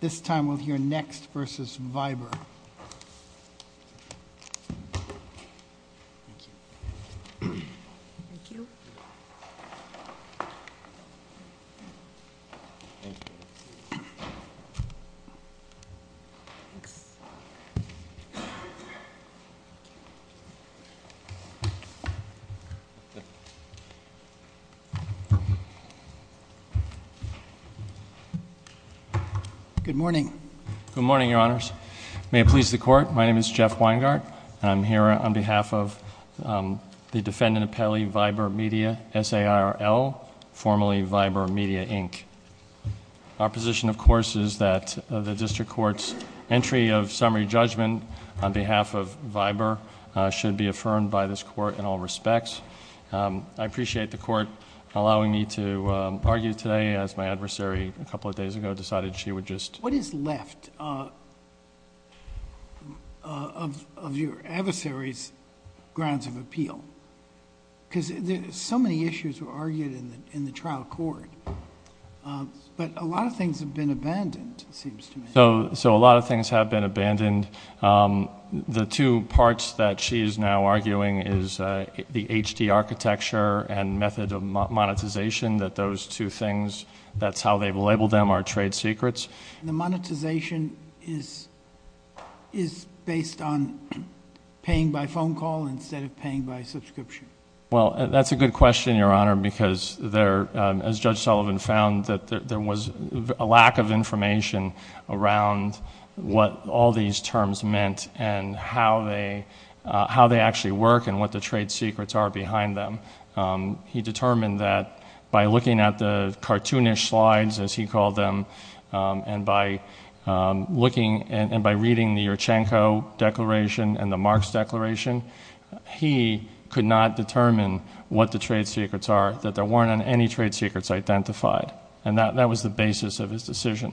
This time we'll hear Next v. Viber. Good morning. Good morning, Your Honors. May it please the Court, my name is Jeff Weingart and I'm here on behalf of the defendant appellee Viber Media, S-A-I-R-L, formerly Viber Media, Inc. Our position, of course, is that the District Court's entry of summary judgment on behalf of Viber should be affirmed by this Court in all respects. I appreciate the Court allowing me to argue today as my adversary a couple of days ago decided she would just... What is left of your adversary's grounds of appeal? Because so many issues were argued in the trial court, but a lot of things have been abandoned, it seems to me. So a lot of things have been abandoned. The two parts that she is now arguing is the HD architecture and method of monetization, that those two things, that's how they've labeled them, are trade secrets. The monetization is based on paying by phone call instead of paying by subscription? Well, that's a good question, Your Honor, because there, as Judge Sullivan found, there was a lack of information around what all these terms meant and how they actually work and what the trade secrets are behind them. He determined that by looking at the cartoonish slides, as he called them, and by looking and by reading the Urchenko Declaration and the Marx Declaration, he could not determine what the trade secrets are, that there weren't any trade secrets identified. And that was the basis of his decision.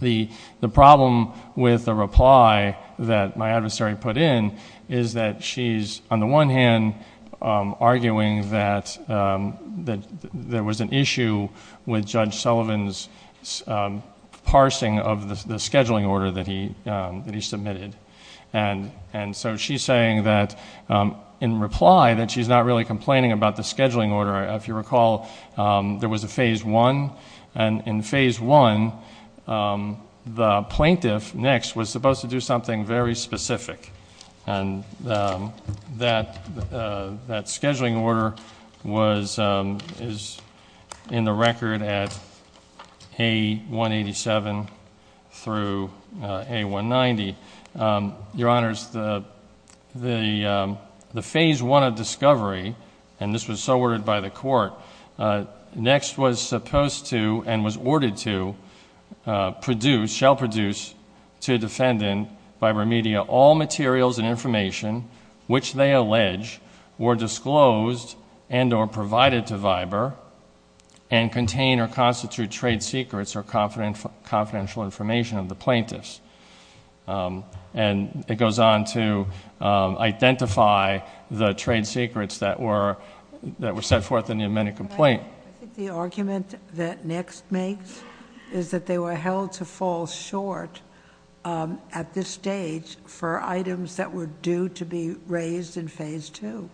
The problem with the reply that my adversary put in is that she's, on the one hand, arguing that there was an issue with Judge Sullivan's parsing of the scheduling order that he submitted. And so she's saying that, in reply, that she's not really complaining about the scheduling order. If you recall, there was a phase one, and in phase one, the plaintiff, Nix, was supposed to do something very specific, and that scheduling order is in the record at A187 through A190. Your Honors, the phase one of discovery, and this was so ordered by the court, Nix was supposed to, and was ordered to, produce, shall produce, to defendant, Viber Media, all materials and information which they allege were disclosed and or provided to Viber and contain or constitute trade secrets or confidential information of the plaintiffs. And it goes on to identify the trade secrets that were set forth in the amended complaint. I think the argument that Nix makes is that they were held to fall short at this stage for items that were due to be raised in phase two.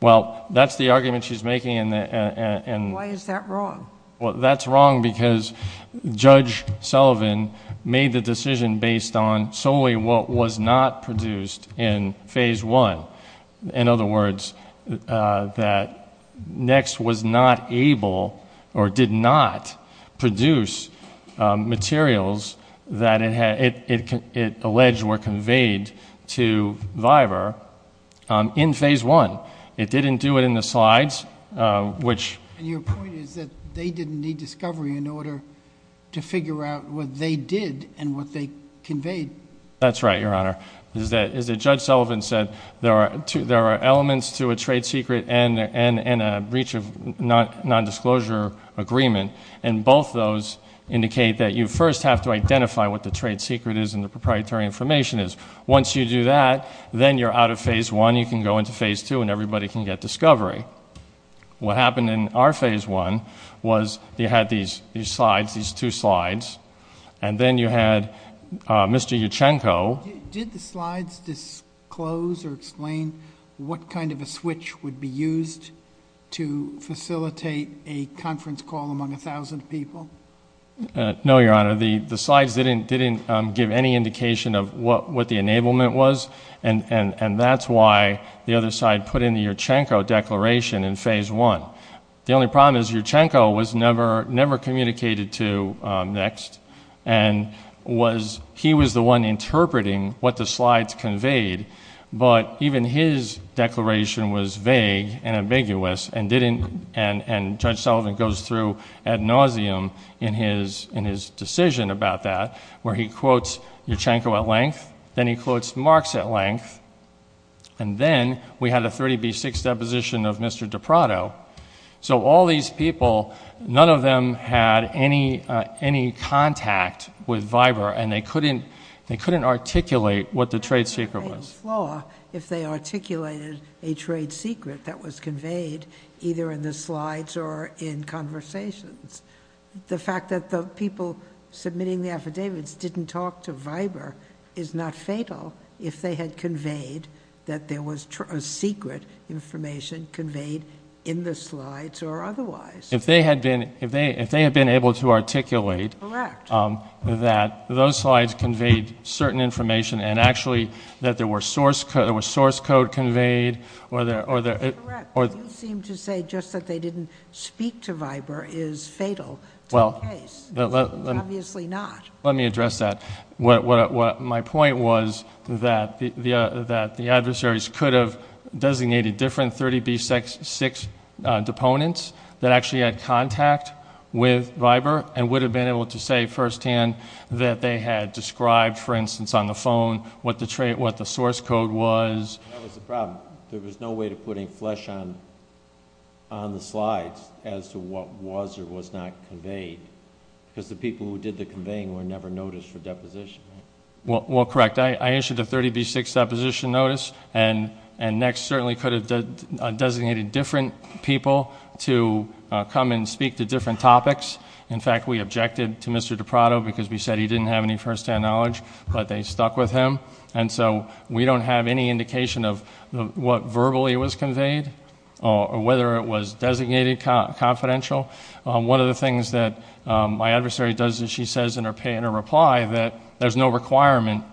Well, that's the argument she's making and... Why is that wrong? That's wrong because Judge Sullivan made the decision based on solely what was not produced in phase one. In other words, that Nix was not able or did not produce materials that it alleged were conveyed to Viber in phase one. It didn't do it in the slides, which... And your point is that they didn't need discovery in order to figure out what they did and what they conveyed. That's right, Your Honor. As Judge Sullivan said, there are elements to a trade secret and a breach of nondisclosure agreement and both those indicate that you first have to identify what the trade secret is and the proprietary information is. Once you do that, then you're out of phase one. You can go into phase two and everybody can get discovery. What happened in our phase one was you had these slides, these two slides, and then you had Mr. Yurchenko... Did the slides disclose or explain what kind of a switch would be used to facilitate a conference call among a thousand people? No, Your Honor. The slides didn't give any indication of what the enablement was and that's why the other side put in the Yurchenko declaration in phase one. The only problem was Yurchenko was never communicated to next and he was the one interpreting what the slides conveyed, but even his declaration was vague and ambiguous and Judge Sullivan goes through ad nauseum in his decision about that where he quotes Yurchenko at length, then he quotes Marx at length, and then we had a 30B6 deposition of Mr. Di Prato. So all these people, none of them had any contact with Viber and they couldn't articulate what the trade secret was. It would be a great flaw if they articulated a trade secret that was conveyed either in the slides or in conversations. The fact that the people submitting the affidavits didn't talk to Viber is not fatal if they had conveyed that there was secret information conveyed in the slides or otherwise. If they had been able to articulate that those slides conveyed certain information and actually that there was source code conveyed or... Correct. You seem to say just that they didn't speak to Viber is fatal to the case. It's obviously not. Let me address that. My point was that the adversaries could have designated different 30B6 deponents that actually had contact with Viber and would have been able to say first hand that they had described, for instance, on the phone what the source code was. That was the problem. There was no way to put any flesh on the slides as to what was or was not conveyed because the people who did the conveying were never noticed for deposition. Well, correct. I issued a 30B6 deposition notice and Next certainly could have designated different people to come and speak to different topics. In fact, we objected to Mr. DiPrato because we said he didn't have any first hand knowledge, but they stuck with him. We don't have any indication of what verbally was conveyed or whether it was designated confidential. One of the things that my adversary does is she says in her reply that there's no requirement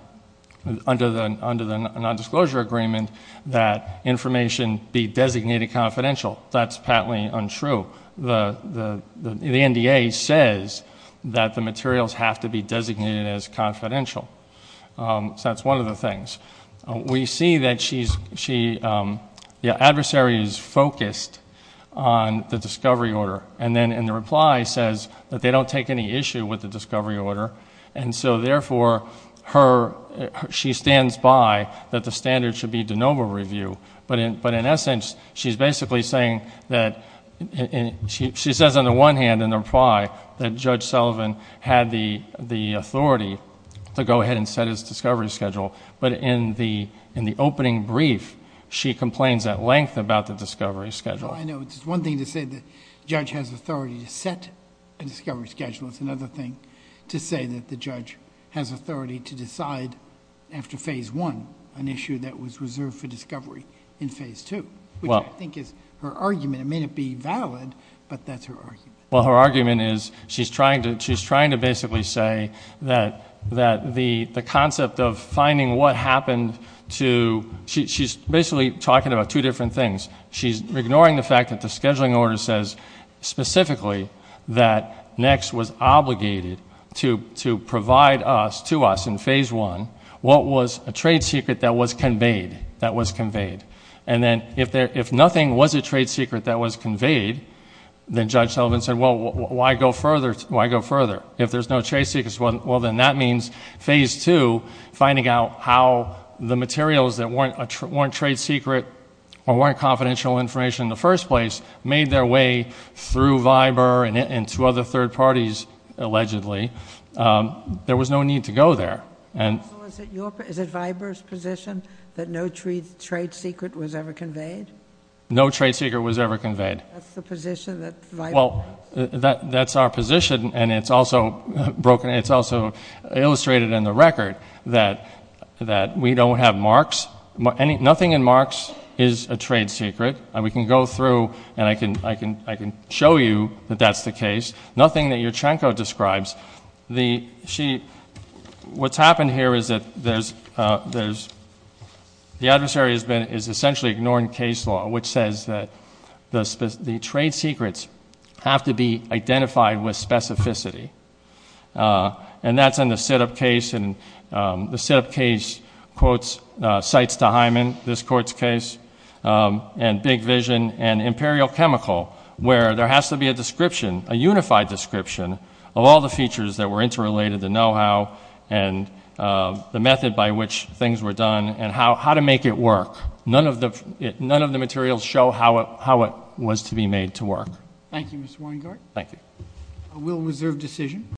under the nondisclosure agreement that information be designated confidential. That's patently untrue. The NDA says that the materials have to be designated as confidential. That's one of the things. We see that the adversary is focused on the discovery order and the reply says that they don't take any issue with the discovery order. Therefore, she stands by that the standard should be de novo review. In essence, she's basically saying that she says on the one hand in the reply that Judge Sullivan had the authority to go ahead and set his discovery schedule, but in the opening brief, she complains at length about the discovery schedule. I know. It's one thing to say that judge has authority to set a discovery schedule. It's another thing to say that the judge has authority to decide after phase one an issue that was reserved for discovery in phase two, which I think is her argument. It may not be valid, but that's her argument. Her argument is she's trying to basically say that the concept of finding what happened to... she's basically talking about two different things. She's ignoring the fact that the scheduling order says specifically that NECS was obligated to provide to us in phase one what was a trade secret that was conveyed. Then if nothing was a trade secret that was conveyed, then Judge Sullivan said, well, why go further? If there's no trade secrets, well, then that means phase two, finding out how the materials that weren't trade secret or weren't confidential information in the first place made their way through Viber and to other third parties, allegedly. There was no need to go there. Is it Viber's position that no trade secret was ever conveyed? No trade secret was ever conveyed. That's the position that Viber has. That's our position, and it's also broken. It's also illustrated in the record that we don't have marks. Nothing in marks is a trade secret. We can go through, and I can show you that that's the case. Nothing that Yurchenko describes. What's happened here is that the adversary is essentially ignoring case law, which says that the trade secrets have to be identified with specificity, and that's in the sit-up case. The sit-up case quotes Cites to Hyman, this court's case, and Big Vision and Imperial Chemical, where there has to be a description, a unified description of all the features that were interrelated, the know-how and the method by which things were done and how to make it work. None of the materials show how it was to be made to work.